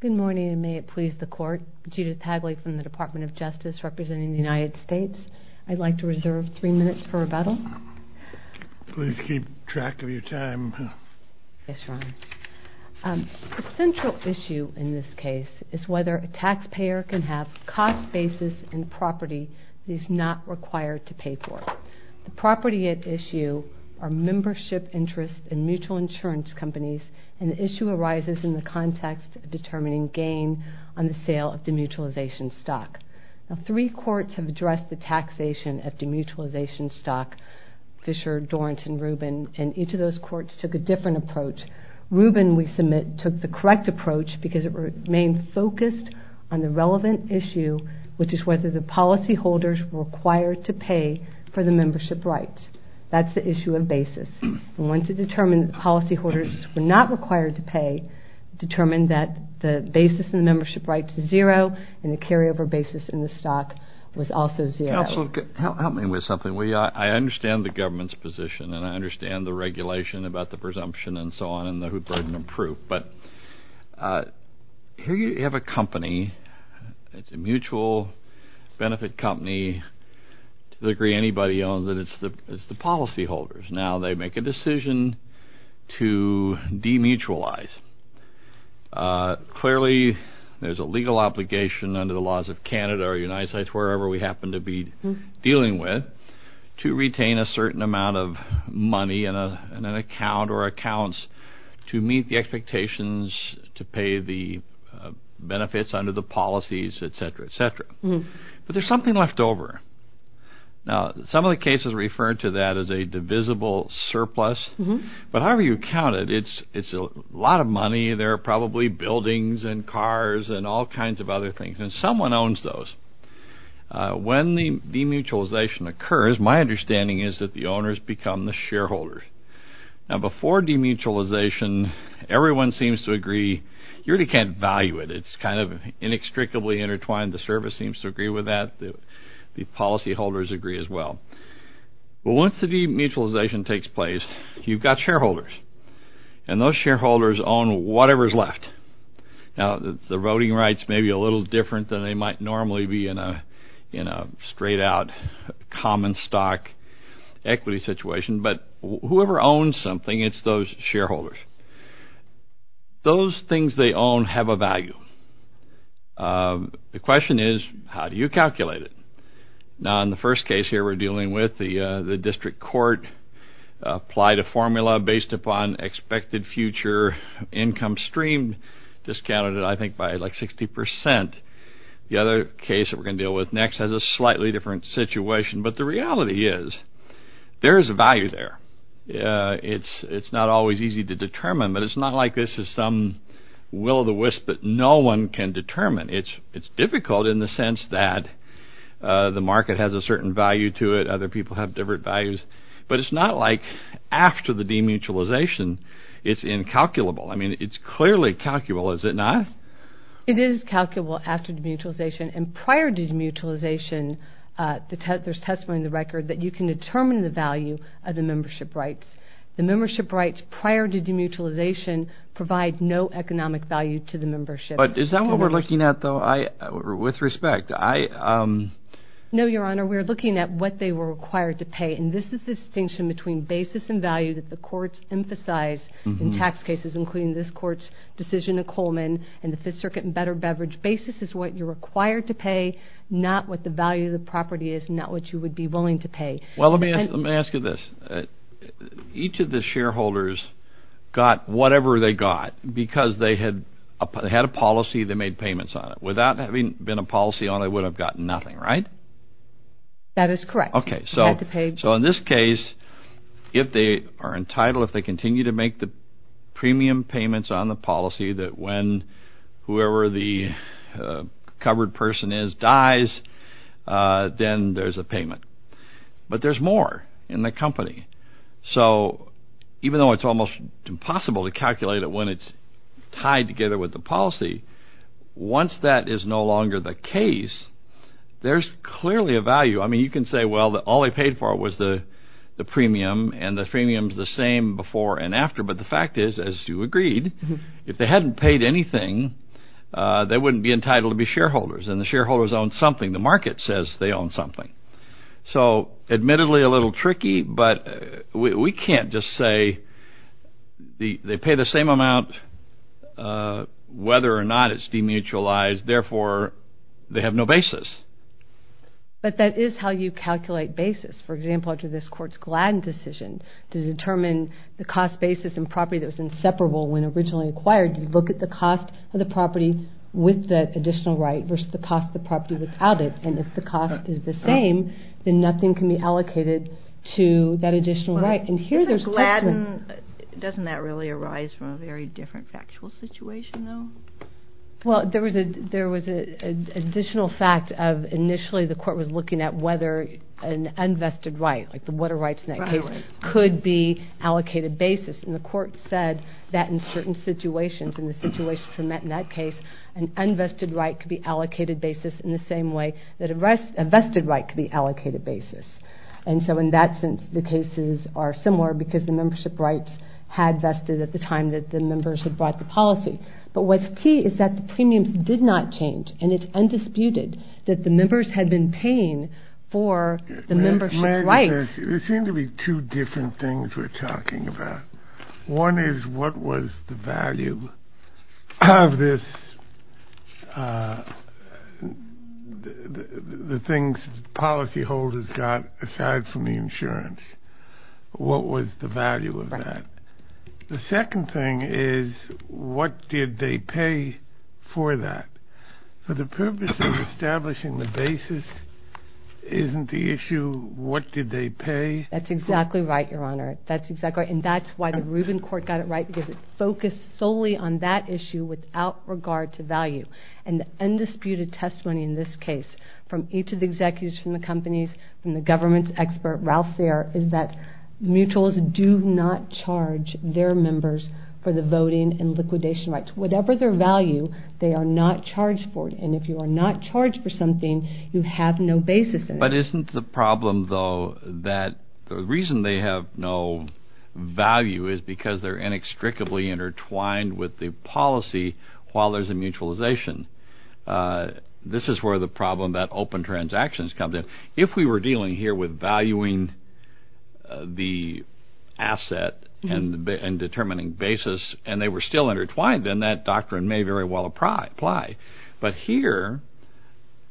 Good morning and may it please the court, Judith Hagley from the Department of Justice representing the United States. I'd like to reserve three minutes for rebuttal. Please keep track of your time. Yes, Your Honor. The central issue in this case is whether a taxpayer can have cost basis in property that he's not required to pay for. The property at issue are membership interest and mutual insurance companies and the issue arises in the context of determining gain on the sale of demutualization stock. Now three courts have addressed the taxation of demutualization stock, Fisher, Dorrance and Rubin, and each of those courts took a different approach. Rubin, we submit, took the correct approach because it remained focused on the relevant issue, which is whether the policy holders were required to pay for the stock and once it determined the policy holders were not required to pay, determined that the basis in the membership rights is zero and the carryover basis in the stock was also zero. Counsel, help me with something. I understand the government's position and I understand the regulation about the presumption and so on and the burden of proof, but here you have a company, it's a mutual benefit company to the degree anybody owns it, it's the policy holders. Now they make a decision to demutualize. Clearly, there's a legal obligation under the laws of Canada or the United States, wherever we happen to be dealing with, to retain a certain amount of money in an account or accounts to meet the expectations to pay the benefits under the policies, et cetera, et cetera. But there's something left over. Now some of the cases refer to that as a divisible surplus, but however you count it, it's a lot of money, there are probably buildings and cars and all kinds of other things and someone owns those. When the demutualization occurs, my understanding is that the owners become the shareholders. Now before demutualization, everyone seems to agree, you really can't value it, it's kind of inextricably intertwined, the service seems to agree with that, the policy holders agree as well. But once the demutualization takes place, you've got shareholders and those shareholders own whatever's left. Now the voting rights may be a little different than they might normally be in a straight out common stock equity situation, but whoever owns something, it's those shareholders. Those things they own have a value. The question is how do you calculate it? Now in the first case here we're dealing with, the district court applied a formula based upon expected future income stream, discounted it I think by like 60%. The other case that we're going to deal with next has a slightly different situation, but the reality is there is a value there. It's not always easy to determine, but it's not like this is some will of the wisp that no one can determine. It's difficult in the sense that the market has a certain value to it, other people have different values, but it's not like after the demutualization it's incalculable. I mean it's clearly calculable, is it not? It is calculable after demutualization and prior to demutualization there's testimony in the record that you can determine the value of the membership rights. The membership rights prior to demutualization provide no economic value to the membership. But is that what we're looking at though, with respect? No your honor, we're looking at what they were required to pay and this is the distinction between basis and value that the courts emphasize in tax cases including this court's decision in Coleman and the Fifth Circuit and Better Beverage. Basis is what you're required to pay, not what the value of the property is, not what you would be willing to pay. Well let me ask you this, each of the shareholders got whatever they got because they had a policy, they made payments on it. Without having been a policy owner they would have gotten nothing, right? That is correct. Okay, so in this case if they are entitled, if they continue to make the premium payments on the policy that when whoever the covered person is dies then there's a payment. But there's more in the policy. It's almost impossible to calculate it when it's tied together with the policy. Once that is no longer the case, there's clearly a value. I mean you can say well all they paid for was the premium and the premium's the same before and after. But the fact is as you agreed, if they hadn't paid anything they wouldn't be entitled to be shareholders and the shareholders own something, the market says they own something. So admittedly a little tricky but we can't just say they pay the same amount whether or not it's demutualized therefore they have no basis. But that is how you calculate basis. For example after this court's Gladden decision to determine the cost basis and property that was inseparable when originally acquired, you look at the cost of the property with that additional right versus the cost of the property without it and if the cost is the same then nothing can be allocated to that additional right. Doesn't Gladden, doesn't that really arise from a very different factual situation though? Well there was an additional fact of initially the court was looking at whether an unvested right, like the what are rights in that case, could be allocated basis and the court said that in certain situations in the situation in that case an unvested right could be allocated basis in the same way that a vested right could be allocated basis. And so in that sense the cases are similar because the membership rights had vested at the time that the members had brought the policy. But what's key is that the premiums did not change and it's undisputed that the members had been paying for the membership rights. There seem to be two different things we're talking about. One is what was the value of this, the things policyholders got aside from the insurance. What was the value of that? The second thing is what did they pay for that? For the purpose of establishing the basis isn't the issue what did they pay? That's exactly right, Your Honor. That's exactly right and that's why the Rubin Court got it right because it focused solely on that issue without regard to value. And the undisputed testimony in this case from each of the executives from the companies and the government's expert Ralph Sayre is that mutuals do not charge their members for the voting and liquidation rights. Whatever their value they are not charged for it and if you are not charged for something you have no basis in it. The reason they have no value is because they're inextricably intertwined with the policy while there's a mutualization. This is where the problem that open transactions comes in. If we were dealing here with valuing the asset and determining basis and they were still intertwined then that doctrine may very well apply. But here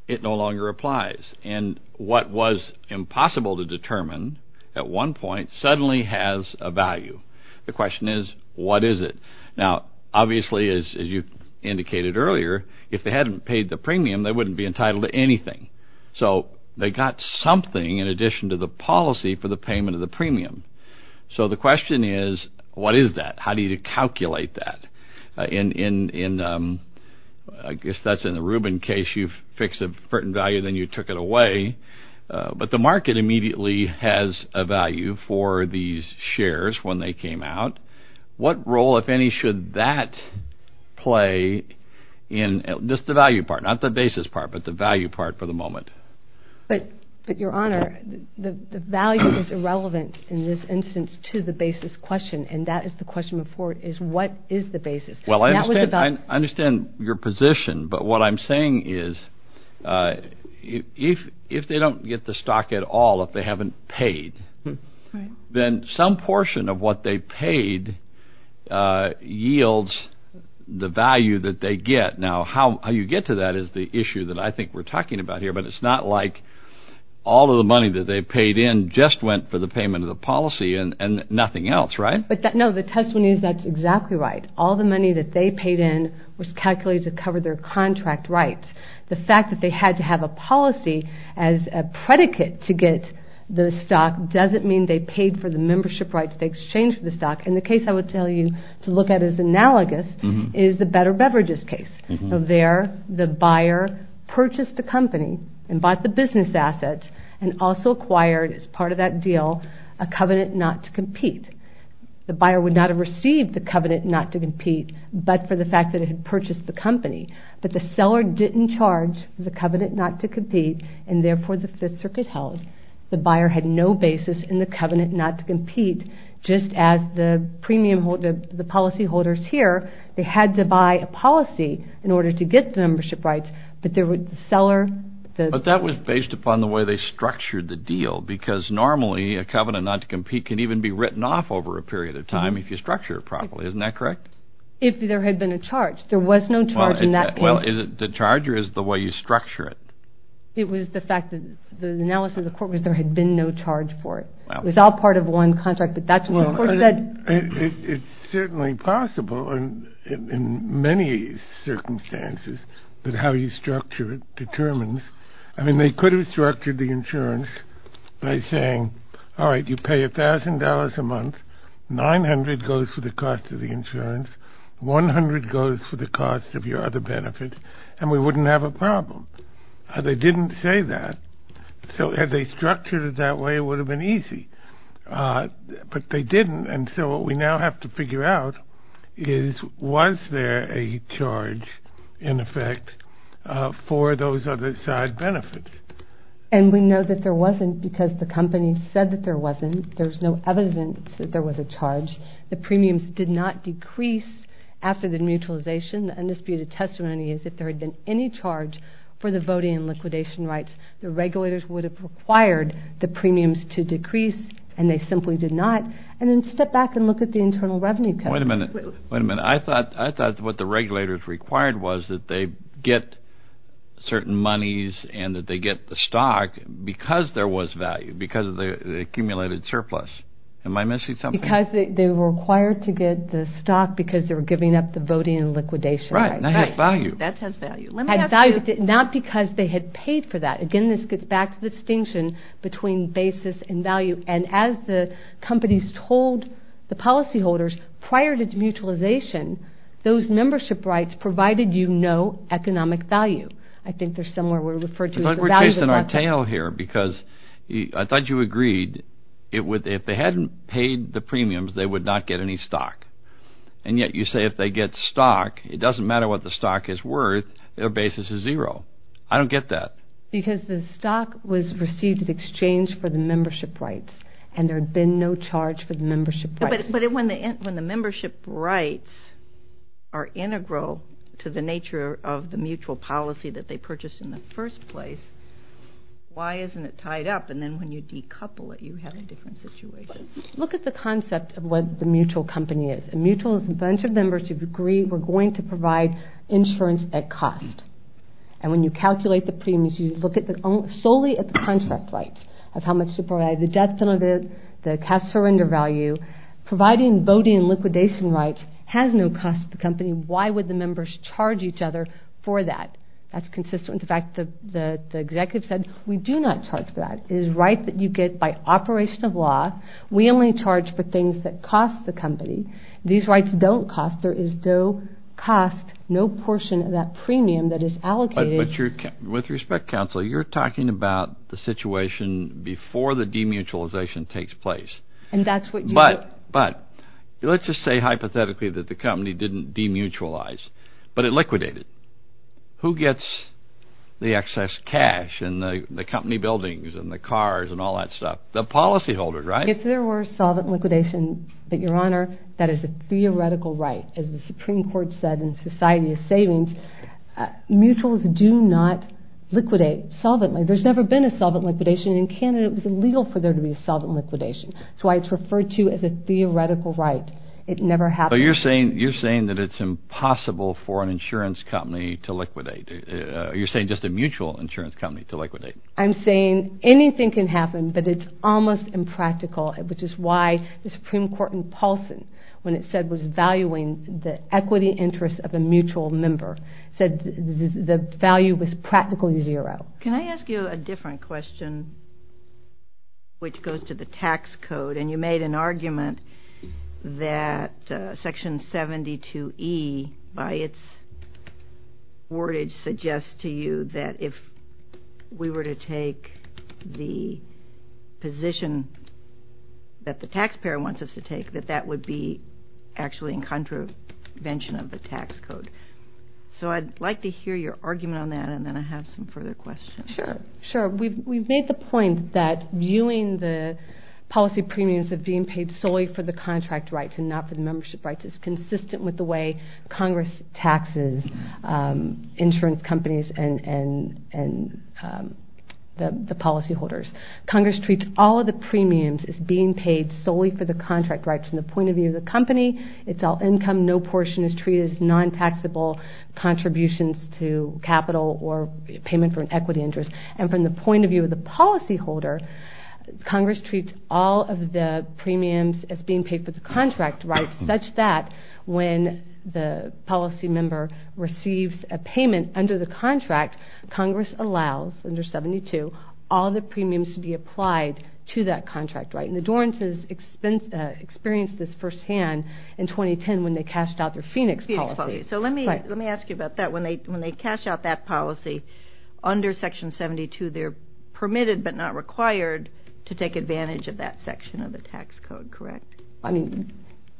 it no longer applies and what was impossible to determine at one point suddenly has a value. The question is what is it? Now obviously as you indicated earlier if they hadn't paid the premium they wouldn't be entitled to anything. So they got something in addition to the policy for the payment of the premium. So the question is what is that? How do you calculate that? I guess that's in the Rubin case you fix a certain value then you took it away. But the market immediately has a value for these shares when they came out. What role if any should that play in just the value part not the basis part but the value part for the moment? But your honor the value is irrelevant in this instance to the basis question and that is the question before is what is the basis? Well I understand your position but what I'm saying is if they don't get the stock at all if they haven't paid then some portion of what they paid yields the value that they get. Now how you get to that is the issue that I think we're talking about here but it's not like all of the money that they paid in just went for the payment of the policy and nothing else right? No the testimony is that's exactly right. All the money that they paid in was calculated to cover their contract rights. The fact that they had to have a policy as a predicate to get the stock doesn't mean they paid for the membership rights they exchanged for the stock and the case I would tell you to look at as analogous is the Better Beverages case. So there the buyer purchased a company and bought the business asset and also acquired as part of that deal a covenant not to compete. The buyer would not have received the covenant not to compete but for the fact that it had purchased the company but the seller didn't charge the covenant not to compete and therefore the 5th Circuit held the buyer had no basis in the covenant not to compete just as the policy holders here they had to buy a policy in order to get the membership rights but there was the seller. But that was based upon the way they structured the deal because normally a covenant not to compete can even be written off over a period of time if you structure it properly isn't that correct? If there had been a charge there was no charge in that case. Well is it the charge or is it the way you structure it? It was the fact that the analysis of the court was there had been no charge for it. It was all part of one contract but that's what the court said. It's certainly possible in many circumstances that how you structure it determines. I mean they could have structured the insurance by saying alright you pay $1,000 a month, $900 goes for the cost of the insurance, $100 goes for the cost of your other benefits and we wouldn't have a problem. They didn't say that so had they structured it that way it would have been easy but they didn't and so we now have to figure out is was there a charge in effect for those other side benefits. And we know that there wasn't because the company said that there wasn't. There's no evidence that there was a charge. The premiums did not decrease after the mutualization. The undisputed testimony is if there had been any charge for the voting and liquidation rights the regulators would have required the premiums to decrease and they simply did not and then step back and look at the internal revenue cut. Wait a minute, wait a minute. I thought what the regulators required was that they get certain monies and that they get the stock because there was value, because of the accumulated surplus. Am I missing something? Because they were required to get the stock because they were giving up the voting and liquidation rights. Right, that has value. That has value. Not because they had paid for that. Again this gets back to the distinction between basis and value and as the companies told the policy holders prior to the mutualization those membership rights provided you no economic value. I think they're somewhere we're referred to as the value of the market. But we're chasing our tail here because I thought you agreed if they hadn't paid the premiums they would not get any stock. And yet you say if they get stock it doesn't matter what the stock is worth their basis is zero. I don't get that. Because the stock was received in exchange for the membership rights and there had been no charge for the membership rights. But when the membership rights are integral to the nature of the mutual policy that they purchased in the first place, why isn't it tied up? And then when you decouple it you have a different situation. Look at the concept of what the mutual company is. A mutual is a bunch of members who agree we're going to provide insurance at cost. And when you calculate the premiums you look solely at the contract rights of how much to provide, the death penalty, the voting and liquidation rights has no cost to the company. Why would the members charge each other for that? That's consistent with the fact that the executive said we do not charge for that. It is a right that you get by operation of law. We only charge for things that cost the company. These rights don't cost. There is no cost, no portion of that premium that is allocated. But with respect, counsel, you're talking about the situation before the demutualization takes place. But let's just say hypothetically that the company didn't demutualize, but it liquidated. Who gets the excess cash and the company buildings and the cars and all that stuff? The policyholders, right? If there were solvent liquidation, but your honor, that is a theoretical right. As the Supreme Court said in Society of Savings, mutuals do not liquidate solvently. There's never been a solvent liquidation and in Canada it was illegal for there to be a solvent liquidation. That's why it's referred to as a theoretical right. It never happened. But you're saying that it's impossible for an insurance company to liquidate. You're saying just a mutual insurance company to liquidate. I'm saying anything can happen, but it's almost impractical, which is why the Supreme Court in Paulson, when it said it was valuing the equity interest of a mutual member, said the value was practically zero. Can I ask you a different question, which goes to the tax code? And you made an argument that Section 72E by its wordage suggests to you that if we were to take the position that the taxpayer wants us to take, that that would be actually in contravention of the tax code. So I'd like to hear your argument on that and then I have some further questions. Sure. We've made the point that viewing the policy premiums of being paid solely for the contract rights and not for the membership rights is consistent with the way Congress taxes insurance companies and the policyholders. Congress treats all of the premiums as being paid solely for the contract rights from the point of view of the company. It's all income. No portion is treated as non-taxable contributions to capital or payment for an equity interest. And from the point of view of the policyholder, Congress treats all of the premiums as being paid for the contract rights such that when the policy member receives a payment under the contract, Congress allows under 72 all the premiums to be applied to that contract right. And the Dorans has experienced this first hand in 2010 when they cashed out their Phoenix policy. So let me ask you about that. When they cash out that policy under Section 72, they're permitted but not required to take advantage of that section of the tax code, correct? I mean,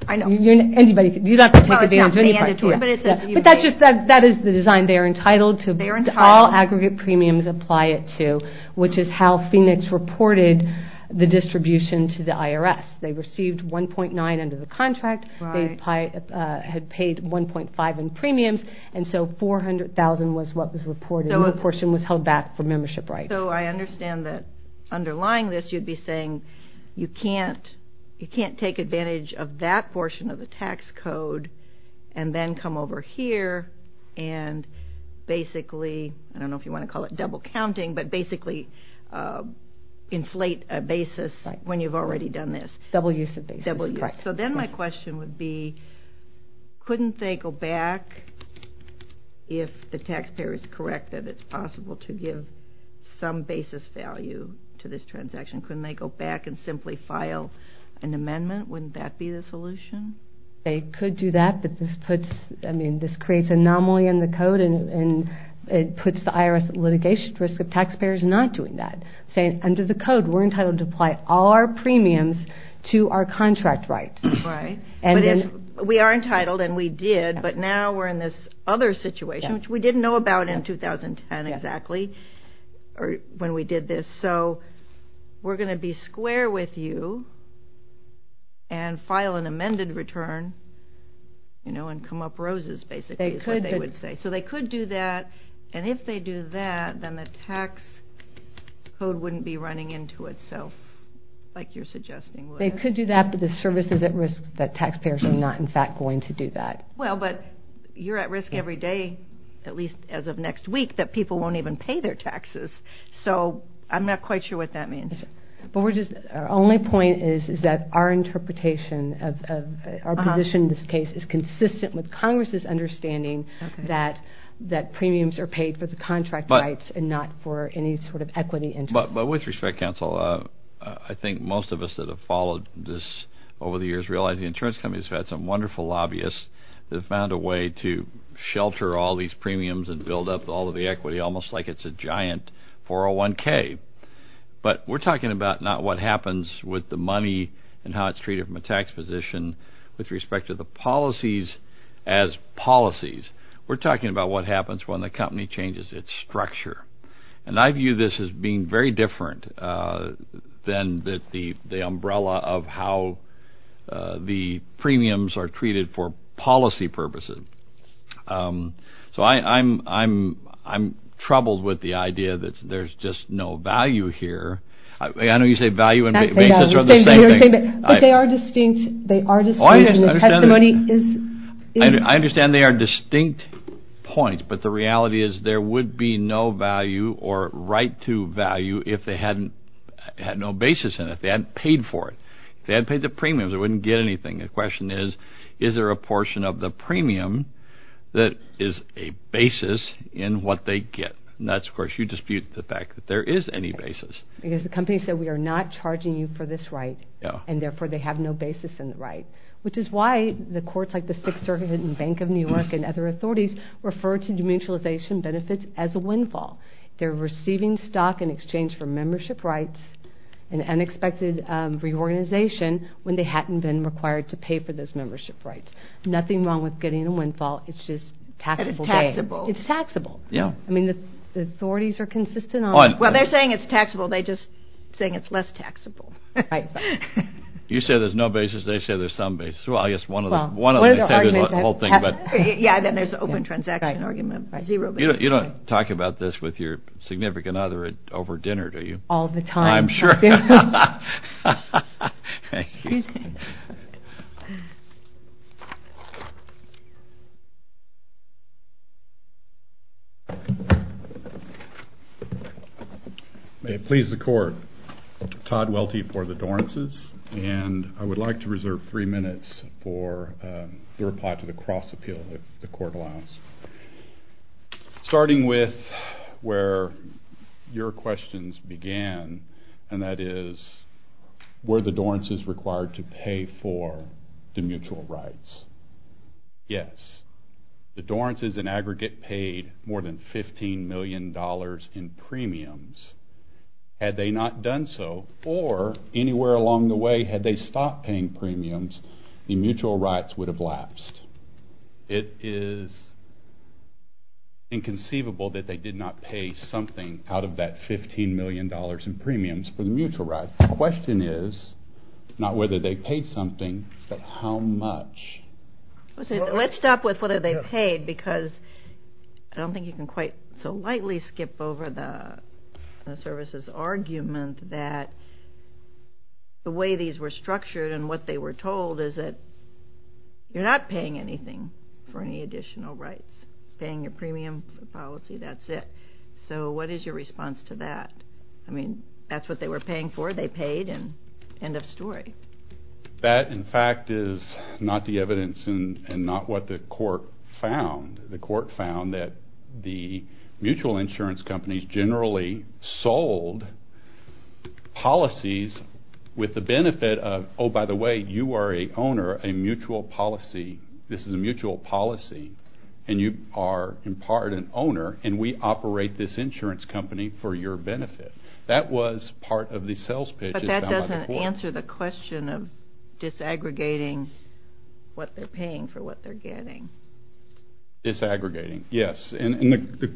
you don't have to take advantage of any part of it, but that is the design. They are entitled to all aggregate premiums apply it to, which is how Phoenix reported the distribution to the IRS. They received 1.9 under the contract. They had paid 1.5 in premiums. And so 400,000 was what was reported. No portion was held back for membership rights. So I understand that underlying this, you'd be saying you can't take advantage of that portion of the tax code and then come over here and basically, I don't know if you want to call it double counting, but basically inflate a basis when you've already done this. Double use of basis. Double use. So then my question would be, couldn't they go back if the taxpayer is correct that it's possible to give some basis value to this transaction? Couldn't they go back and simply file an amendment? Wouldn't that be the solution? They could do that, but this puts, I mean, this creates anomaly in the code and it puts the IRS at litigation risk of taxpayers not doing that. Saying under the code, we're entitled to apply all our premiums to our contract rights. Right. But if we are entitled and we did, but now we're in this other situation, which we didn't know about in 2010 exactly when we did this. So we're going to be square with you and file an amended return and come up roses basically is what they would say. So they could do that. And if they do that, then the tax code wouldn't be running into itself like you're suggesting. They could do that, but the service is at risk that taxpayers are not in fact going to do that. Well, but you're at risk every day, at least as of next week, that people won't even pay their taxes. So I'm not quite sure what that means. But we're just, our only point is, is that our interpretation of our position in this is that premiums are paid for the contract rights and not for any sort of equity interest. But with respect counsel, I think most of us that have followed this over the years realize the insurance companies have had some wonderful lobbyists that have found a way to shelter all these premiums and build up all of the equity, almost like it's a giant 401k. But we're talking about not what happens with the money and how it's treated from a tax position with respect to the policies as policies. We're talking about what happens when the company changes its structure. And I view this as being very different than the umbrella of how the premiums are treated for policy purposes. So I'm troubled with the idea that there's just no value here. I know you say value and basis are the same thing. But they are distinct. They are distinct. I understand they are distinct points, but the reality is there would be no value or right to value if they had no basis in it, if they hadn't paid for it. If they hadn't paid the premiums, they wouldn't get anything. The question is, is there a portion of the premium that is a basis in what they get? And that's, of course, you dispute the fact that there is any basis. Because the company said, we are not charging you for this right, and therefore they have no basis in the right, which is why the courts like the Sixth Circuit and Bank of New York and other authorities refer to demutualization benefits as a windfall. They're receiving stock in exchange for membership rights and unexpected reorganization when they hadn't been required to pay for those membership rights. Nothing wrong with getting a windfall. It's just taxable. And it's taxable. It's taxable. Yeah. I mean, the authorities are consistent on it. Well, they're saying it's taxable. They're just saying it's less taxable. You say there's no basis. They say there's some basis. Well, I guess one of them. One of them. They say there's a whole thing. Yeah. Then there's the open transaction argument. Zero basis. You don't talk about this with your significant other over dinner, do you? All the time. I'm sure. May it please the Court, Todd Welty for the Dorances, and I would like to reserve three minutes for the reply to the cross-appeal that the Court allows. Starting with where your questions began, and that is, were the Dorances required to pay for the mutual rights? Yes. The Dorances, in aggregate, paid more than $15 million in premiums. Had they not done so, or anywhere along the way, had they stopped paying premiums, the mutual rights would have lapsed. It is inconceivable that they did not pay something out of that $15 million in premiums for the mutual rights. The question is not whether they paid something, but how much. Let's stop with whether they paid, because I don't think you can quite so lightly skip over the services argument that the way these were structured and what they were told is that you're not paying anything for any additional rights. Paying your premium policy, that's it. So what is your response to that? I mean, that's what they were paying for, they paid, and end of story. That in fact is not the evidence and not what the Court found. The Court found that the mutual insurance companies generally sold policies with the owner a mutual policy, this is a mutual policy, and you are in part an owner and we operate this insurance company for your benefit. That was part of the sales pitch. But that doesn't answer the question of disaggregating what they're paying for what they're getting. Disaggregating, yes, and the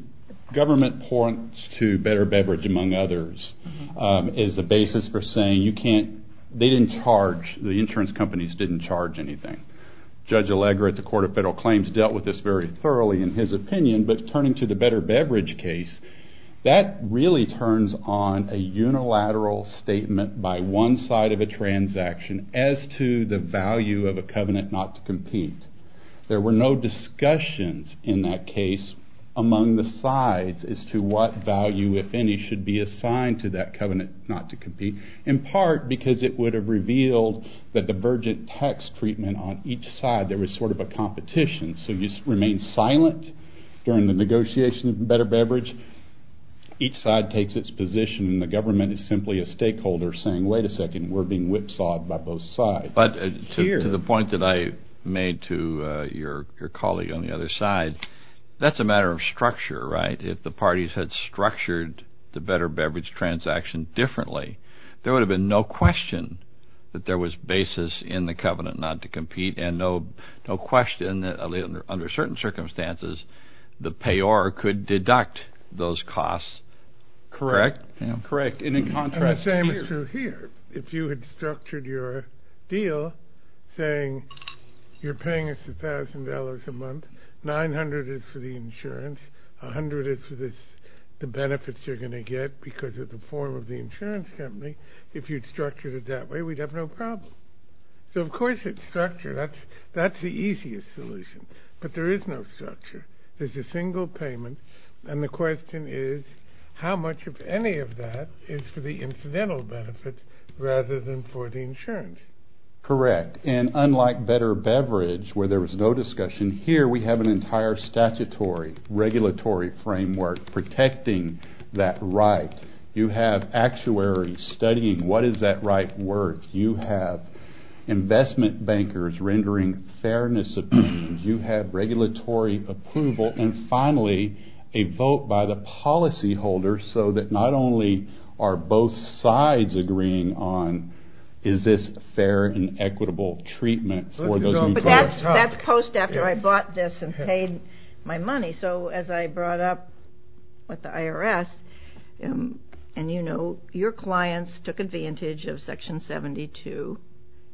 government points to Better Beverage, among others, as the basis for saying you can't, they didn't charge, the insurance companies didn't charge anything. Judge Allegra at the Court of Federal Claims dealt with this very thoroughly in his opinion, but turning to the Better Beverage case, that really turns on a unilateral statement by one side of a transaction as to the value of a covenant not to compete. There were no discussions in that case among the sides as to what value, if any, should be assigned to that covenant not to compete, in part because it would have revealed the divergent tax treatment on each side, there was sort of a competition, so you remain silent during the negotiation of Better Beverage, each side takes its position and the government is simply a stakeholder saying, wait a second, we're being whipsawed by both sides. But to the point that I made to your colleague on the other side, that's a matter of structure, right? If the parties had structured the Better Beverage transaction differently, there would have been no question that there was basis in the covenant not to compete and no question that under certain circumstances, the payor could deduct those costs. Correct? Correct. And in contrast here. And the same is true here. If you had structured your deal saying you're paying us $1,000 a month, $900 is for the benefits you're going to get because of the form of the insurance company, if you'd structured it that way, we'd have no problem. So of course it's structured, that's the easiest solution, but there is no structure. There's a single payment and the question is, how much of any of that is for the incidental benefit rather than for the insurance? Correct. And unlike Better Beverage, where there was no discussion, here we have an entire statutory regulatory framework protecting that right. You have actuaries studying what is that right worth. You have investment bankers rendering fairness opinions. You have regulatory approval. And finally, a vote by the policyholder so that not only are both sides agreeing on, That's post after I bought this and paid my money. So as I brought up with the IRS, and you know, your clients took advantage of Section 72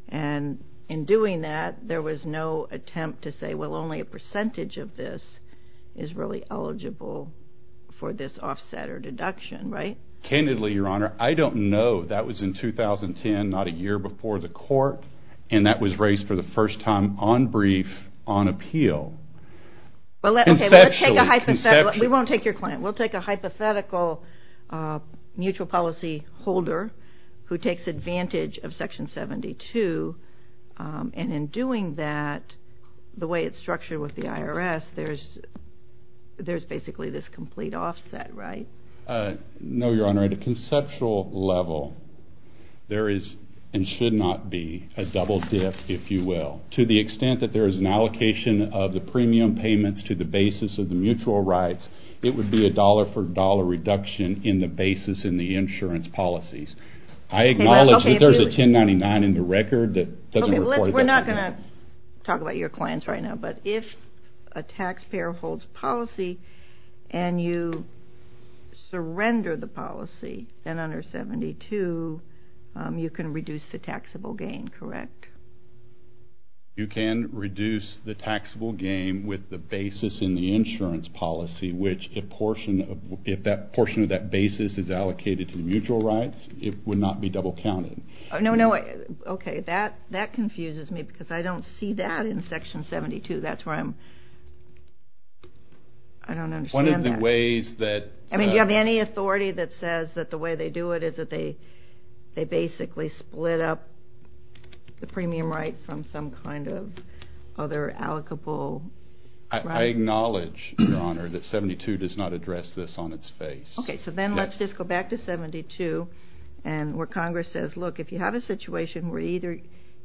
and in doing that, there was no attempt to say, well, only a percentage of this is really eligible for this offset or deduction, right? Candidly, Your Honor, I don't know. And that was raised for the first time on brief, on appeal. Conceptually. We won't take your client, we'll take a hypothetical mutual policyholder who takes advantage of Section 72 and in doing that, the way it's structured with the IRS, there's basically this complete offset, right? No, Your Honor. At a conceptual level, there is and should not be a double dip, if you will. To the extent that there is an allocation of the premium payments to the basis of the mutual rights, it would be a dollar for dollar reduction in the basis in the insurance policies. I acknowledge that there's a 1099 in the record that doesn't report it. We're not going to talk about your clients right now, but if a taxpayer holds policy and you surrender the policy, then under 72, you can reduce the taxable gain, correct? You can reduce the taxable gain with the basis in the insurance policy, which if that portion of that basis is allocated to the mutual rights, it would not be double counted. No, no. Okay. That confuses me because I don't see that in Section 72. That's where I'm... I don't understand that. One of the ways that... I mean, do you have any authority that says that the way they do it is that they basically split up the premium right from some kind of other allocable... I acknowledge, Your Honor, that 72 does not address this on its face. Okay, so then let's just go back to 72 and where Congress says, look, if you have a situation where either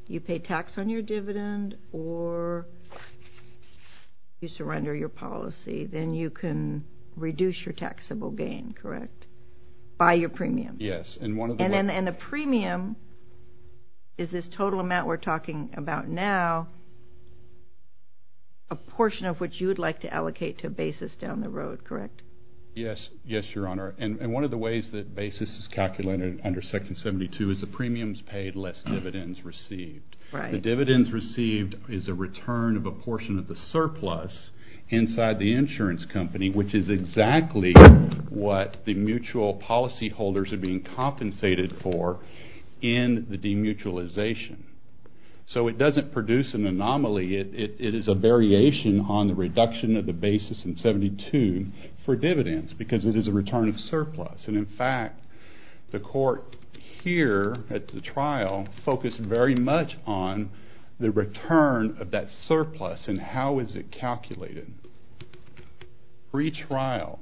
you pay tax on your dividend or you surrender your policy, then you can reduce your taxable gain, correct, by your premiums? Yes, and one of the... And the premium is this total amount we're talking about now, a portion of which you would like to allocate to a basis down the road, correct? Yes, Your Honor, and one of the ways that basis is calculated under Section 72 is the dividends received. Right. The dividends received is a return of a portion of the surplus inside the insurance company, which is exactly what the mutual policyholders are being compensated for in the demutualization. So it doesn't produce an anomaly. It is a variation on the reduction of the basis in 72 for dividends because it is a return of surplus. And in fact, the court here at the trial focused very much on the return of that surplus and how is it calculated. Pre-trial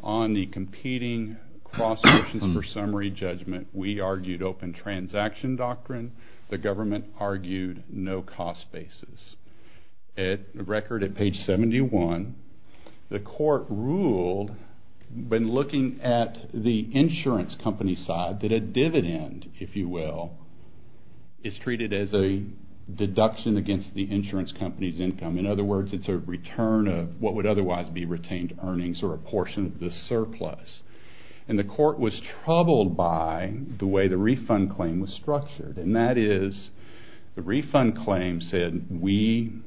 on the competing cross sections for summary judgment, we argued open transaction doctrine. The government argued no cost basis. At the record at page 71, the court ruled when looking at the insurance company side that a dividend, if you will, is treated as a deduction against the insurance company's income. In other words, it's a return of what would otherwise be retained earnings or a portion of the surplus. And the court was troubled by the way the refund claim was structured, and that is the we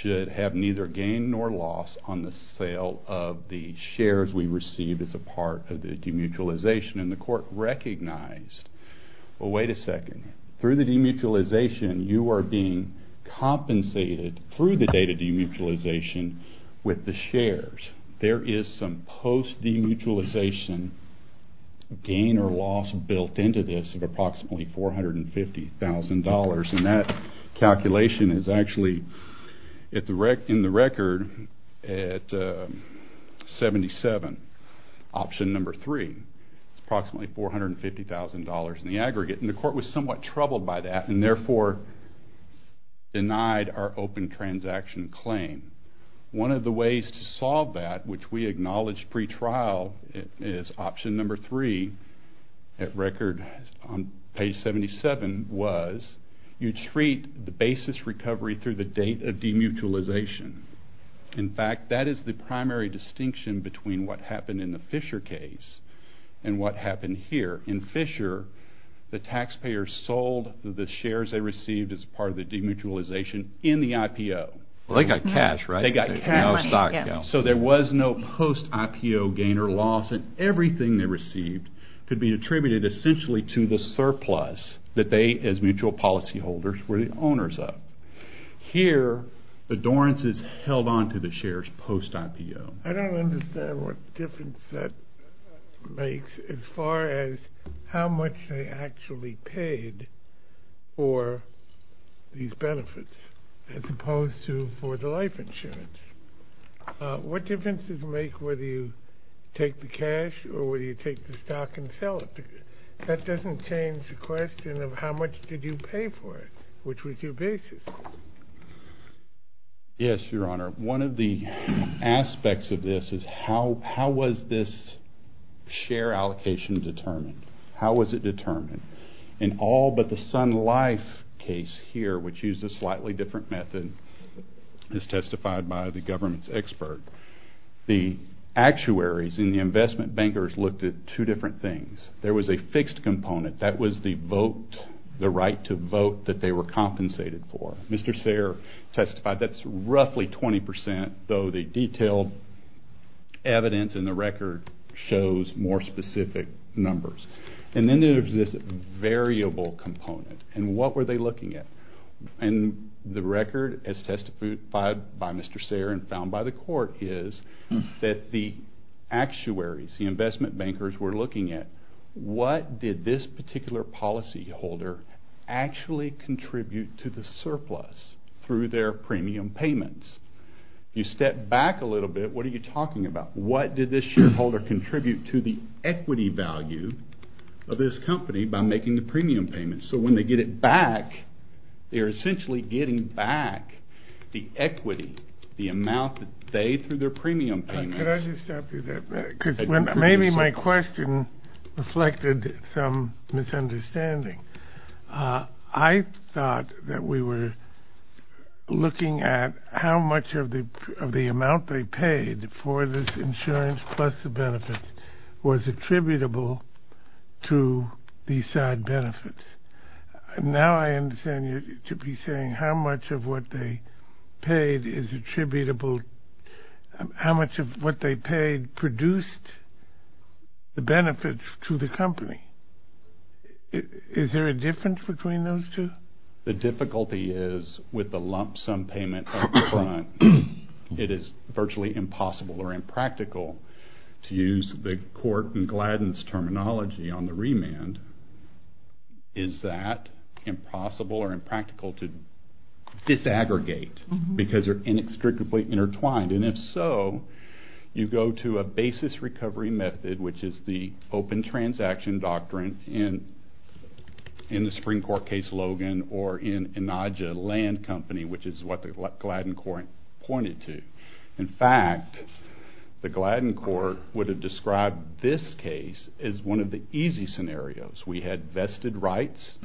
should have neither gain nor loss on the sale of the shares we receive as a part of the demutualization. And the court recognized, well, wait a second. Through the demutualization, you are being compensated through the date of demutualization with the shares. There is some post-demutualization gain or loss built into this of approximately $450,000. And that calculation is actually in the record at 77, option number 3. It's approximately $450,000 in the aggregate. And the court was somewhat troubled by that and therefore denied our open transaction claim. One of the ways to solve that, which we acknowledged pre-trial, is option number 3 at record on 77 was you treat the basis recovery through the date of demutualization. In fact, that is the primary distinction between what happened in the Fisher case and what happened here. In Fisher, the taxpayers sold the shares they received as a part of the demutualization in the IPO. Well, they got cash, right? They got cash. Yeah. So there was no post-IPO gain or loss, and everything they received could be attributed essentially to the surplus that they, as mutual policyholders, were the owners of. Here, the Dorrance is held on to the shares post-IPO. I don't understand what difference that makes as far as how much they actually paid for these benefits as opposed to for the life insurance. What difference does it make whether you take the cash or whether you take the stock and sell it? That doesn't change the question of how much did you pay for it, which was your basis. Yes, Your Honor. One of the aspects of this is how was this share allocation determined? How was it determined? In all but the Sun Life case here, which used a slightly different method, as testified by the government's expert, the actuaries and the investment bankers looked at two different things. There was a fixed component. That was the vote, the right to vote that they were compensated for. Mr. Sayre testified that's roughly 20 percent, though the detailed evidence in the record shows more specific numbers. And then there's this variable component, and what were they looking at? And the record, as testified by Mr. Sayre and found by the court, is that the actuaries, the investment bankers, were looking at what did this particular policyholder actually contribute to the surplus through their premium payments? You step back a little bit, what are you talking about? What did this shareholder contribute to the equity value of this company by making the premium payments? So when they get it back, they're essentially getting back the equity, the amount that they through their premium payments. Could I just stop you there, because maybe my question reflected some misunderstanding. I thought that we were looking at how much of the amount they paid for this insurance plus the benefits was attributable to these side benefits. Now I understand you to be saying how much of what they paid is attributable, how much of what they paid produced the benefits to the company. Is there a difference between those two? The difficulty is with the lump sum payment upfront. It is virtually impossible or impractical to use the court and Gladden's terminology on the remand. Is that impossible or impractical to disaggregate because they're inextricably intertwined? And if so, you go to a basis recovery method, which is the open transaction doctrine in the Supreme Court case Logan or in Inaja Land Company, which is what the Gladden court pointed to. In fact, the Gladden court would have described this case as one of the easy scenarios. We had vested rights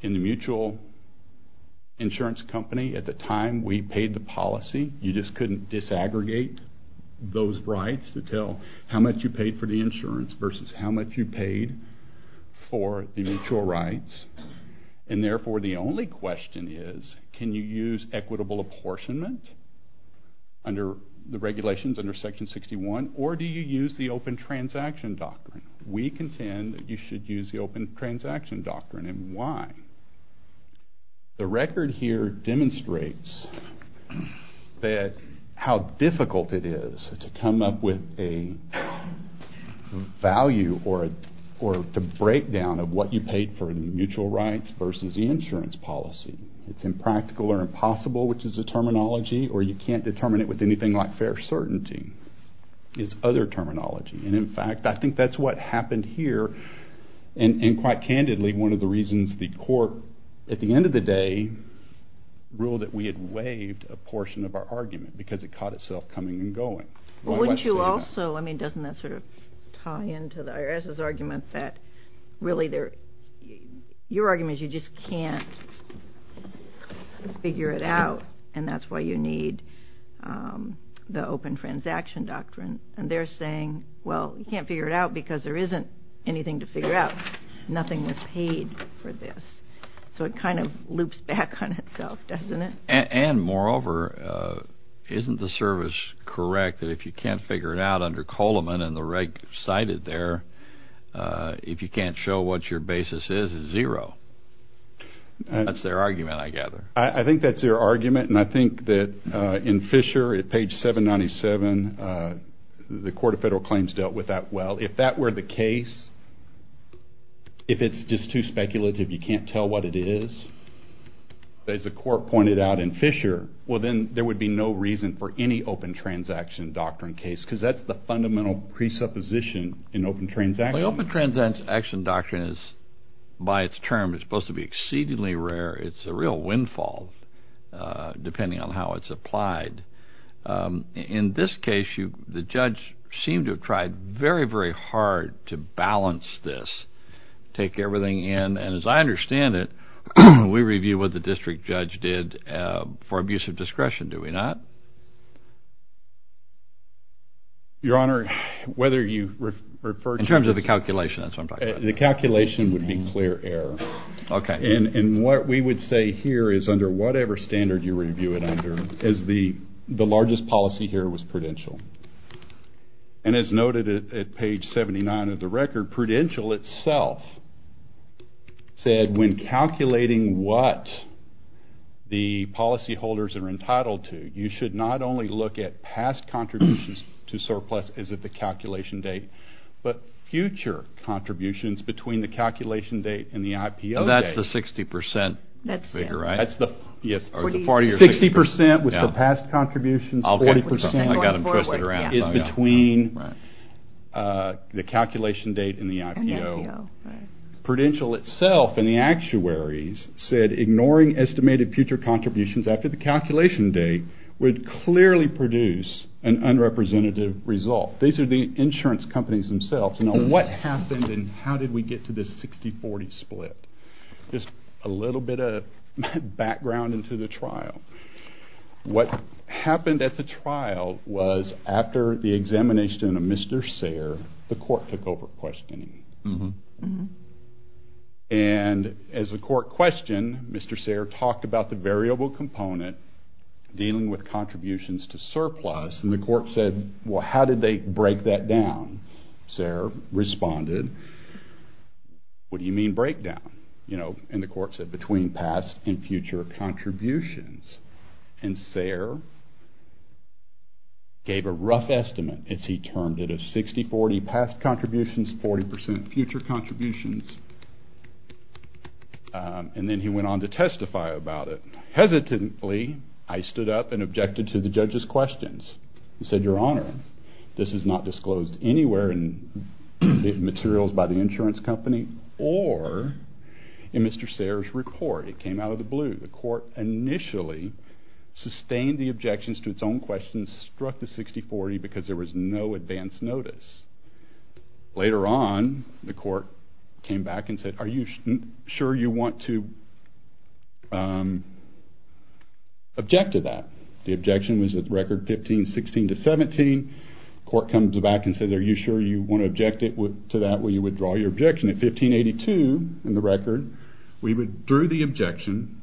in the mutual insurance company at the time we paid the policy. You just couldn't disaggregate those rights to tell how much you paid for the insurance versus how much you paid for the mutual rights. And therefore, the only question is, can you use equitable apportionment under the regulations under Section 61, or do you use the open transaction doctrine? We contend that you should use the open transaction doctrine, and why? The record here demonstrates that how difficult it is to come up with a value or a breakdown of what you paid for the mutual rights versus the insurance policy. It's impractical or impossible, which is a terminology, or you can't determine it with anything like fair certainty is other terminology, and in fact, I think that's what happened here. And quite candidly, one of the reasons the court, at the end of the day, ruled that we had waived a portion of our argument, because it caught itself coming and going. Well, wouldn't you also, I mean, doesn't that sort of tie into the IRS's argument that really they're, your argument is you just can't figure it out, and that's why you need the open transaction doctrine. And they're saying, well, you can't figure it out because there isn't anything to figure out. Nothing was paid for this. So it kind of loops back on itself, doesn't it? And moreover, isn't the service correct that if you can't figure it out under Coleman and the reg cited there, if you can't show what your basis is, it's zero? That's their argument, I gather. I think that's their argument, and I think that in Fisher, at page 797, the Court of Federal Claims dealt with that well. If that were the case, if it's just too speculative, you can't tell what it is, as the court pointed out in Fisher, well, then there would be no reason for any open transaction doctrine case because that's the fundamental presupposition in open transaction. Open transaction doctrine is, by its term, it's supposed to be exceedingly rare. It's a real windfall, depending on how it's applied. In this case, the judge seemed to have tried very, very hard to balance this, take everything in. And as I understand it, we review what the district judge did for abuse of discretion, do we not? Your Honor, whether you refer to this... In terms of the calculation, that's what I'm talking about. The calculation would be clear error. Okay. And what we would say here is, under whatever standard you review it under, is the largest policy here was prudential. And as noted at page 79 of the record, prudential itself said, when calculating what the policy holders are entitled to, you should not only look at past contributions to surplus as of the calculation date, but future contributions between the calculation date and the IPO date. That's the 60% figure, right? Yes. 60% was for past contributions, 40% is between the calculation date and the IPO. Prudential itself in the actuaries said, ignoring estimated future contributions after the calculation date would clearly produce an unrepresentative result. These are the insurance companies themselves. Now, what happened and how did we get to this 60-40 split? Just a little bit of background into the trial. What happened at the trial was, after the examination of Mr. Sayre, the court took over questioning. And as the court questioned, Mr. Sayre talked about the variable component dealing with contributions to surplus, and the court said, well, how did they break that down? Sayre responded, what do you mean breakdown? And the court said, between past and future contributions. And Sayre gave a rough estimate, as he termed it, of 60-40 past contributions, 40% future contributions, and then he went on to testify about it. Hesitantly, I stood up and objected to the judge's questions and said, your honor, this is not disclosed anywhere in the materials by the insurance company or in Mr. Sayre's report. It came out of the blue. The court initially sustained the objections to its own questions, struck the 60-40 because there was no advance notice. Later on, the court came back and said, are you sure you want to object to that? The objection was at record 15-16-17, court comes back and says, are you sure you want to object to that? Well, you withdraw your objection at 15-82 in the record. We withdrew the objection,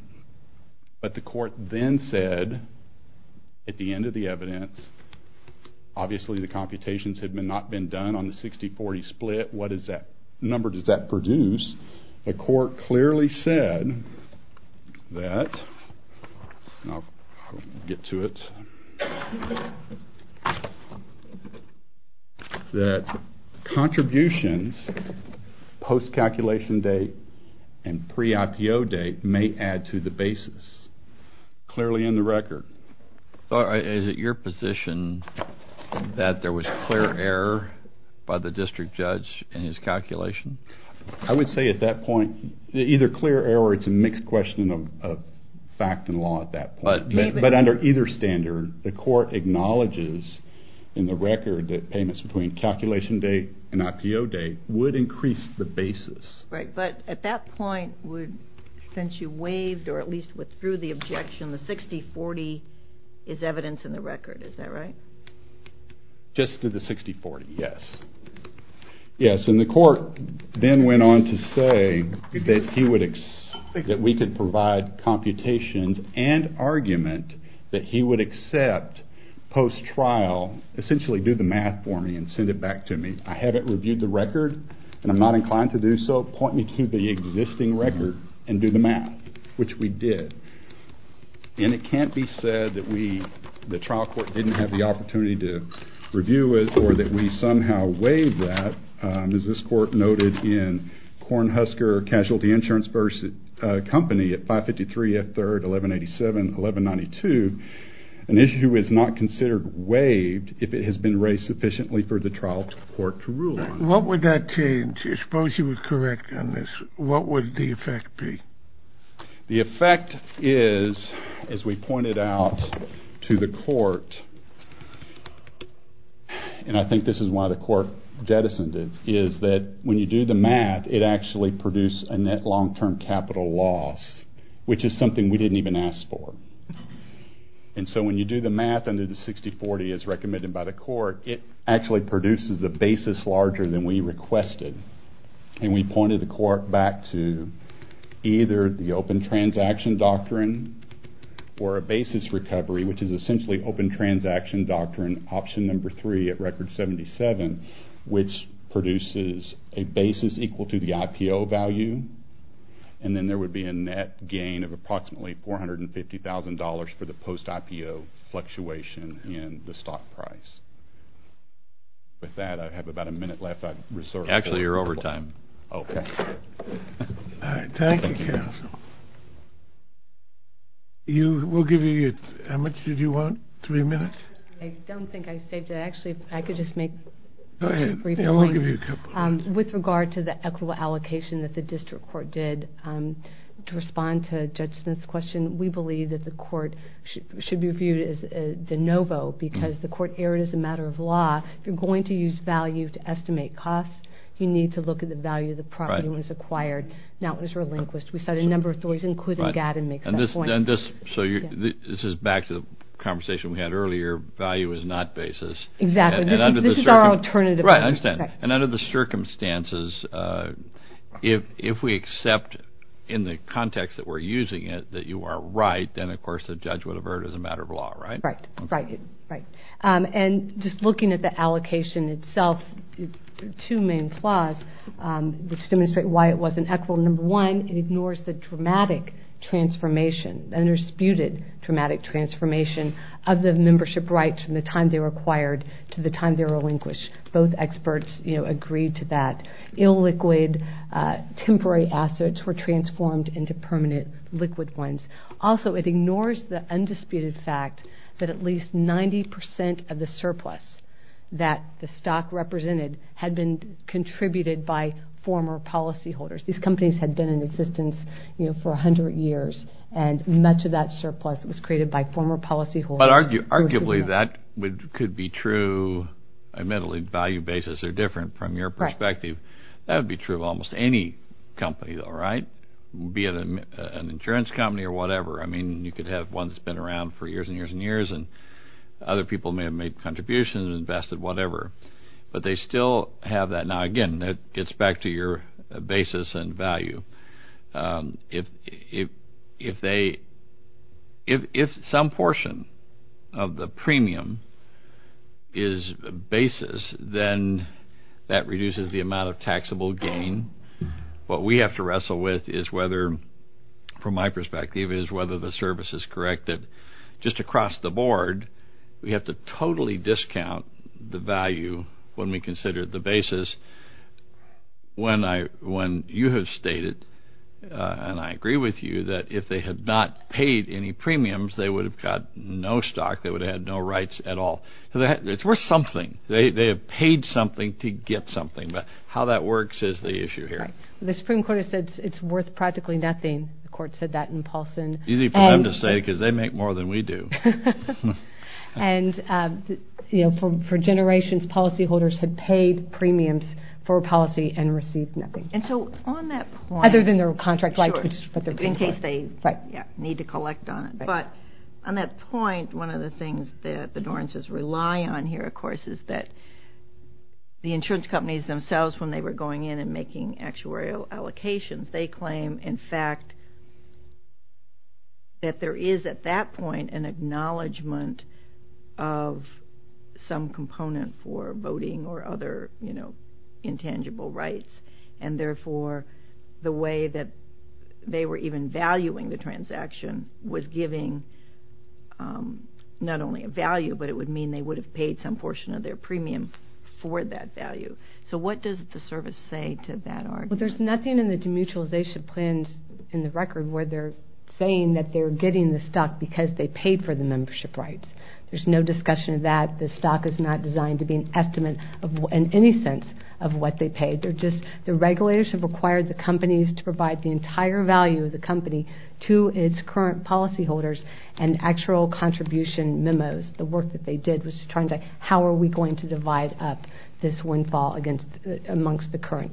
but the court then said, at the end of the evidence, obviously the computations had not been done on the 60-40 split. What is that number? Does that produce? The court clearly said that contributions post-calculation date and pre-IPO date may add to the basis. Clearly in the record. Is it your position that there was clear error by the district judge in his calculation? I would say at that point, either clear error or it's a mixed question of fact and law at that point. But under either standard, the court acknowledges in the record that payments between calculation date and IPO date would increase the basis. But at that point, since you waived or at least withdrew the objection, the 60-40 is evidence in the record, is that right? Just to the 60-40, yes. Yes, and the court then went on to say that we could provide computations and argument that he would accept post-trial, essentially do the math for me and send it back to me. I haven't reviewed the record and I'm not inclined to do so. Point me to the existing record and do the math, which we did. And it can't be said that the trial court didn't have the opportunity to review it or that we somehow waived that, as this court noted in Kornhusker Casualty Insurance Company at 553 F. 3rd, 1187, 1192, an issue is not considered waived if it has been raised sufficiently for the trial court to rule on. What would that change? I suppose you would correct on this. What would the effect be? The effect is, as we pointed out to the court, and I think this is why the court jettisoned it, is that when you do the math, it actually produced a net long-term capital loss, which is something we didn't even ask for. And so when you do the math under the 60-40 as recommended by the court, it actually produces a basis larger than we requested. And we pointed the court back to either the open transaction doctrine or a basis recovery, which is essentially open transaction doctrine, option number three at record 77, which produces a basis equal to the IPO value. And then there would be a net gain of approximately $450,000 for the post-IPO fluctuation in the stock price. With that, I have about a minute left. Actually, you're over time. Okay. Thank you, counsel. We'll give you, how much did you want? Three minutes? I don't think I saved it. Actually, I could just make two brief points. Go ahead. Yeah, we'll give you a couple. With regard to the equitable allocation that the district court did, to respond to Judge Smith's question, we believe that the court should be viewed as de novo because the court erred as a matter of law. If you're going to use value to estimate costs, you need to look at the value of the property when it's acquired, not when it's relinquished. We cite a number of stories, including Gatton makes that point. So this is back to the conversation we had earlier, value is not basis. Exactly. This is our alternative. Right, I understand. And under the circumstances, if we accept in the context that we're using it that you are right, then of course the judge would have erred as a matter of law, right? Right. Right. Right. And just looking at the allocation itself, two main flaws, which demonstrate why it wasn't equitable. Number one, it ignores the dramatic transformation, undisputed dramatic transformation of the membership rights from the time they were acquired to the time they were relinquished. Both experts agreed to that. Illiquid temporary assets were transformed into permanent liquid ones. Also, it ignores the undisputed fact that at least 90% of the surplus that the stock represented had been contributed by former policyholders. These companies had been in existence, you know, for 100 years, and much of that surplus was created by former policyholders. But arguably that could be true. Admittedly, value basis are different from your perspective. That would be true of almost any company though, right? Be it an insurance company or whatever. I mean, you could have one that's been around for years and years and years, and other people may have made contributions, invested, whatever. But they still have that. Now, again, that gets back to your basis and value. If some portion of the premium is basis, then that reduces the amount of taxable gain. What we have to wrestle with is whether, from my perspective, is whether the service is corrected. Just across the board, we have to totally discount the value when we consider the basis. When you have stated, and I agree with you, that if they had not paid any premiums, they would have got no stock. They would have had no rights at all. It's worth something. They have paid something to get something. But how that works is the issue here. Right. The Supreme Court has said it's worth practically nothing. The court said that in Paulson. Easy for them to say because they make more than we do. And, you know, for generations, policyholders had paid premiums for a policy and received nothing. And so on that point... Other than their contract, like... Sure. In case they... Right. ...need to collect on it. But on that point, one of the things that the Norrences rely on here, of course, is that the insurance companies themselves, when they were going in and making actuarial allocations, they claim, in fact, that there is, at that point, an acknowledgement of some component for voting or other, you know, intangible rights. And, therefore, the way that they were even valuing the transaction was giving not only a value, but it would mean they would have paid some portion of their premium for that value. So what does the service say to that argument? Well, there's nothing in the demutualization plans in the record where they're saying that they're getting the stock because they paid for the membership rights. There's no discussion of that. The stock is not designed to be an estimate in any sense of what they paid. They're just... The regulators have required the companies to provide the entire value of the company to its current policyholders and actual contribution memos. The work that they did was trying to... How are we going to divide up this windfall amongst the current?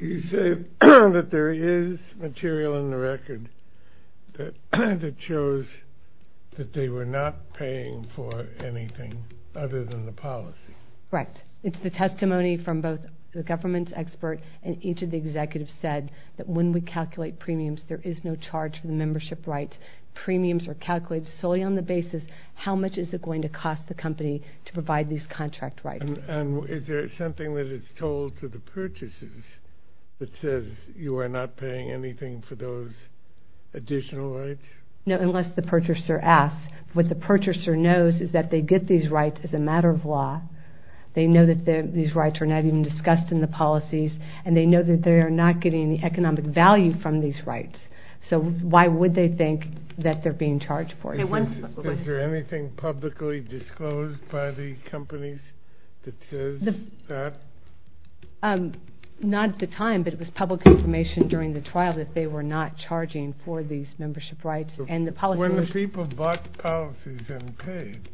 You say that there is material in the record that shows that they were not paying for anything other than the policy. Right. It's the testimony from both the government expert and each of the executives said that when we calculate premiums, there is no charge for the membership rights. Premiums are calculated solely on the basis how much is it going to cost the company to provide these contract rights. And is there something that is told to the purchasers that says you are not paying anything for those additional rights? No, unless the purchaser asks. What the purchaser knows is that they get these rights as a matter of law. They know that these rights are not even discussed in the policies, and they know that they are not getting the economic value from these rights. So why would they think that they are being charged for it? Is there anything publicly disclosed by the companies that says that? Not at the time, but it was public information during the trial that they were not charging for these membership rights. When the people bought the policies and paid,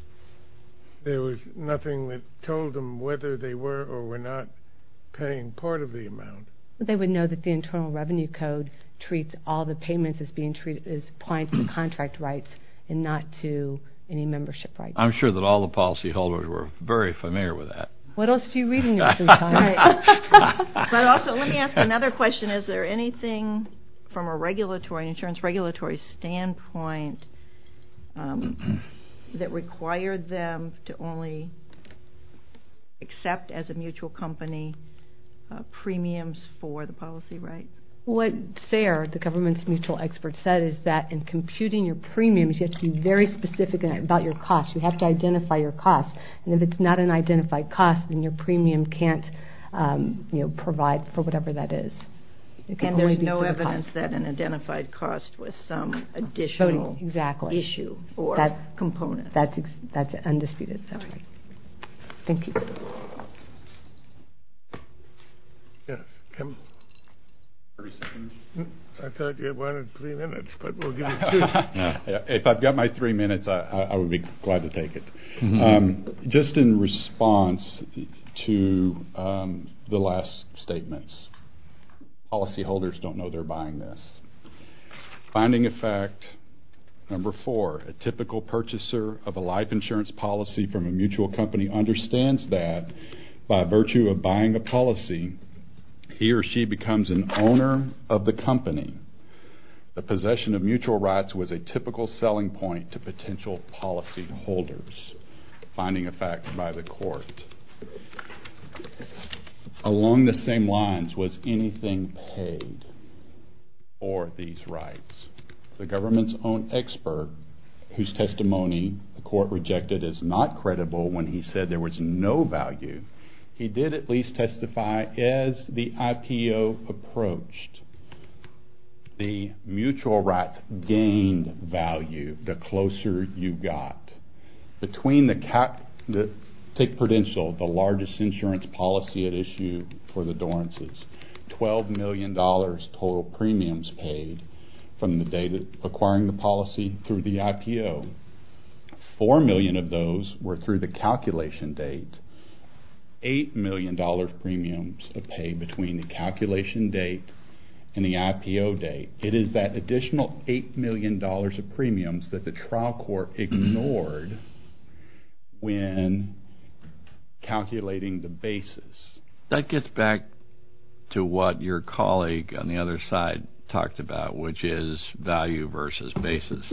there was nothing that told them whether they were or were not paying part of the amount. They would know that the Internal Revenue Code treats all the payments as points to contract rights and not to any membership rights. I'm sure that all the policyholders were very familiar with that. What else do you read in your free time? But also let me ask another question. Is there anything from a regulatory, an insurance regulatory standpoint that required them to only accept as a mutual company premiums for the policy right? What FAIR, the government's mutual expert, said is that in computing your premiums, you have to be very specific about your cost. You have to identify your cost. And if it's not an identified cost, then your premium can't provide for whatever that is. And there's no evidence that an identified cost was some additional issue or component. That's undisputed. Thank you. Yes, Kevin. I thought you wanted three minutes, but we'll give you two. If I've got my three minutes, I would be glad to take it. Just in response to the last statements, policyholders don't know they're buying this. Finding effect number four, a typical purchaser of a life insurance policy from a mutual company understands that by virtue of buying a policy, he or she becomes an owner of the company. The possession of mutual rights was a typical selling point to potential policyholders. Finding effect by the court. Along the same lines, was anything paid for these rights? The government's own expert, whose testimony the court rejected as not credible when he said there was no value, he did at least testify as the IPO approached. The mutual rights gained value the closer you got. Between the Tick Prudential, the largest insurance policy at issue for the Dorrances, $12 million total premiums paid from the date of acquiring the policy through the IPO. Four million of those were through the calculation date. Eight million dollars premiums of pay between the calculation date and the IPO date. It is that additional eight million dollars of premiums that the trial court ignored when calculating the basis. That gets back to what your colleague on the other side talked about, which is value versus basis.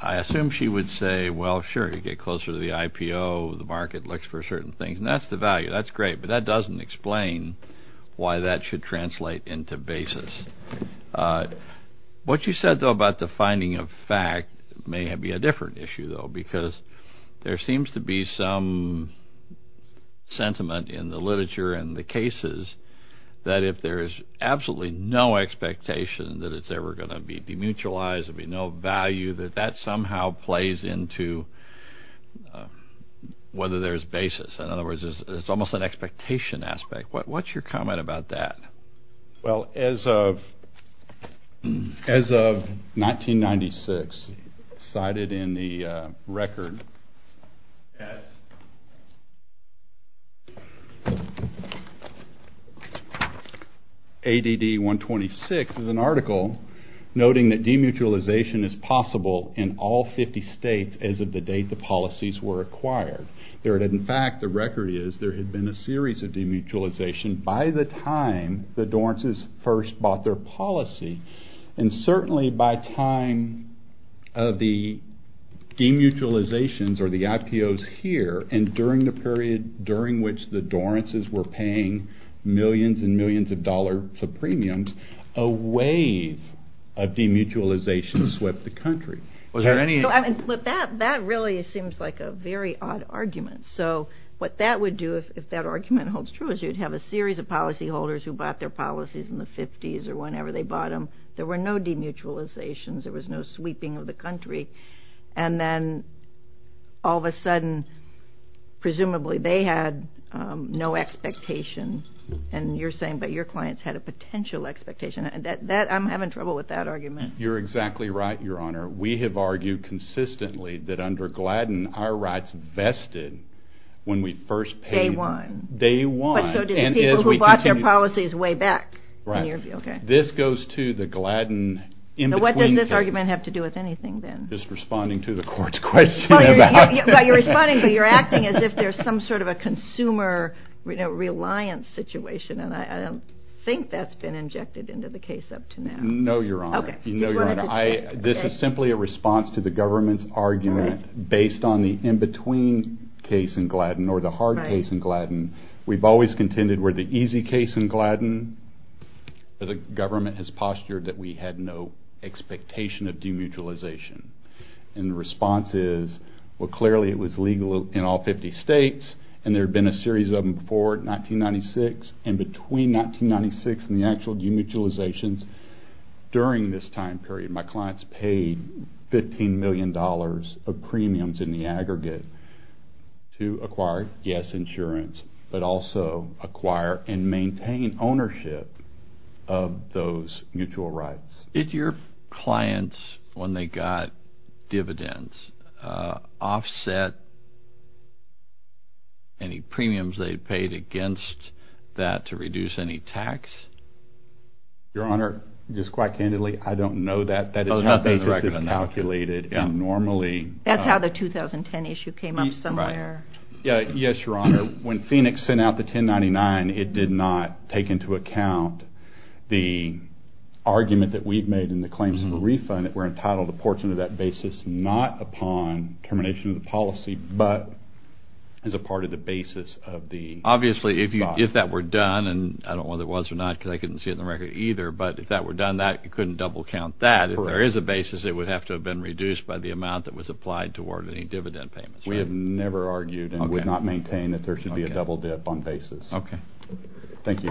I assume she would say, well, sure, you get closer to the IPO, the market looks for certain things, and that's the value. That's great, but that doesn't explain why that should translate into basis. What you said, though, about the finding of fact may be a different issue, though, because there seems to be some sentiment in the literature and the cases that if there is absolutely no expectation that it's ever going to be demutualized, there'll be no value, that that somehow plays into whether there's basis. In other words, it's almost an expectation aspect. What's your comment about that? Well, as of 1996, cited in the record, ADD 126 is an article noting that demutualization is possible in all 50 states as of the date the policies were acquired. In fact, the record is there had been a series of demutualization by the time the Dorrances first bought their policy, and certainly by time of the demutualizations or the IPOs here, and during the period during which the Dorrances were paying millions and millions of dollars of premiums, a wave of demutualization swept the country. That really seems like a very odd argument. So what that would do if that argument holds true is you'd have a series of policyholders who bought their policies in the 50s or whenever they bought them. There were no demutualizations. There was no sweeping of the country. And then all of a sudden, presumably they had no expectation, and you're saying, but your clients had a potential expectation. I'm having trouble with that argument. You're exactly right, Your Honor. We have argued consistently that under Gladden, our rights vested when we first paid them. Day one. Day one. But so did the people who bought their policies way back. Right. This goes to the Gladden in-between thing. So what does this argument have to do with anything then? Just responding to the court's question about it. You're responding, but you're acting as if there's some sort of a consumer reliance situation, and I don't think that's been injected into the case up to now. No, Your Honor. Okay. This is simply a response to the government's argument based on the in-between case in Gladden or the hard case in Gladden. We've always contended where the easy case in Gladden, the government has postured that we had no expectation of demutualization. And the response is, well, clearly it was legal in all 50 states, and there had been a series of them before 1996. And between 1996 and the actual demutualizations during this time period, my clients paid $15 million of premiums in the aggregate to acquire, yes, insurance, but also acquire and maintain ownership of those mutual rights. Did your clients, when they got dividends, offset any premiums they paid against that to reduce any tax? Your Honor, just quite candidly, I don't know that. That is how the basis is calculated. That's how the 2010 issue came up somewhere. Yes, Your Honor. Your Honor, when Phoenix sent out the 1099, it did not take into account the argument that we've made in the claims of the refund that we're entitled to a portion of that basis not upon termination of the policy, but as a part of the basis of the stock. Obviously, if that were done, and I don't know whether it was or not because I couldn't see it in the record either, but if that were done, you couldn't double count that. If there is a basis, it would have to have been reduced by the amount that was applied toward any dividend payments. We have never argued and would not maintain that there should be a double dip on basis. Okay. Thank you, Your Honor.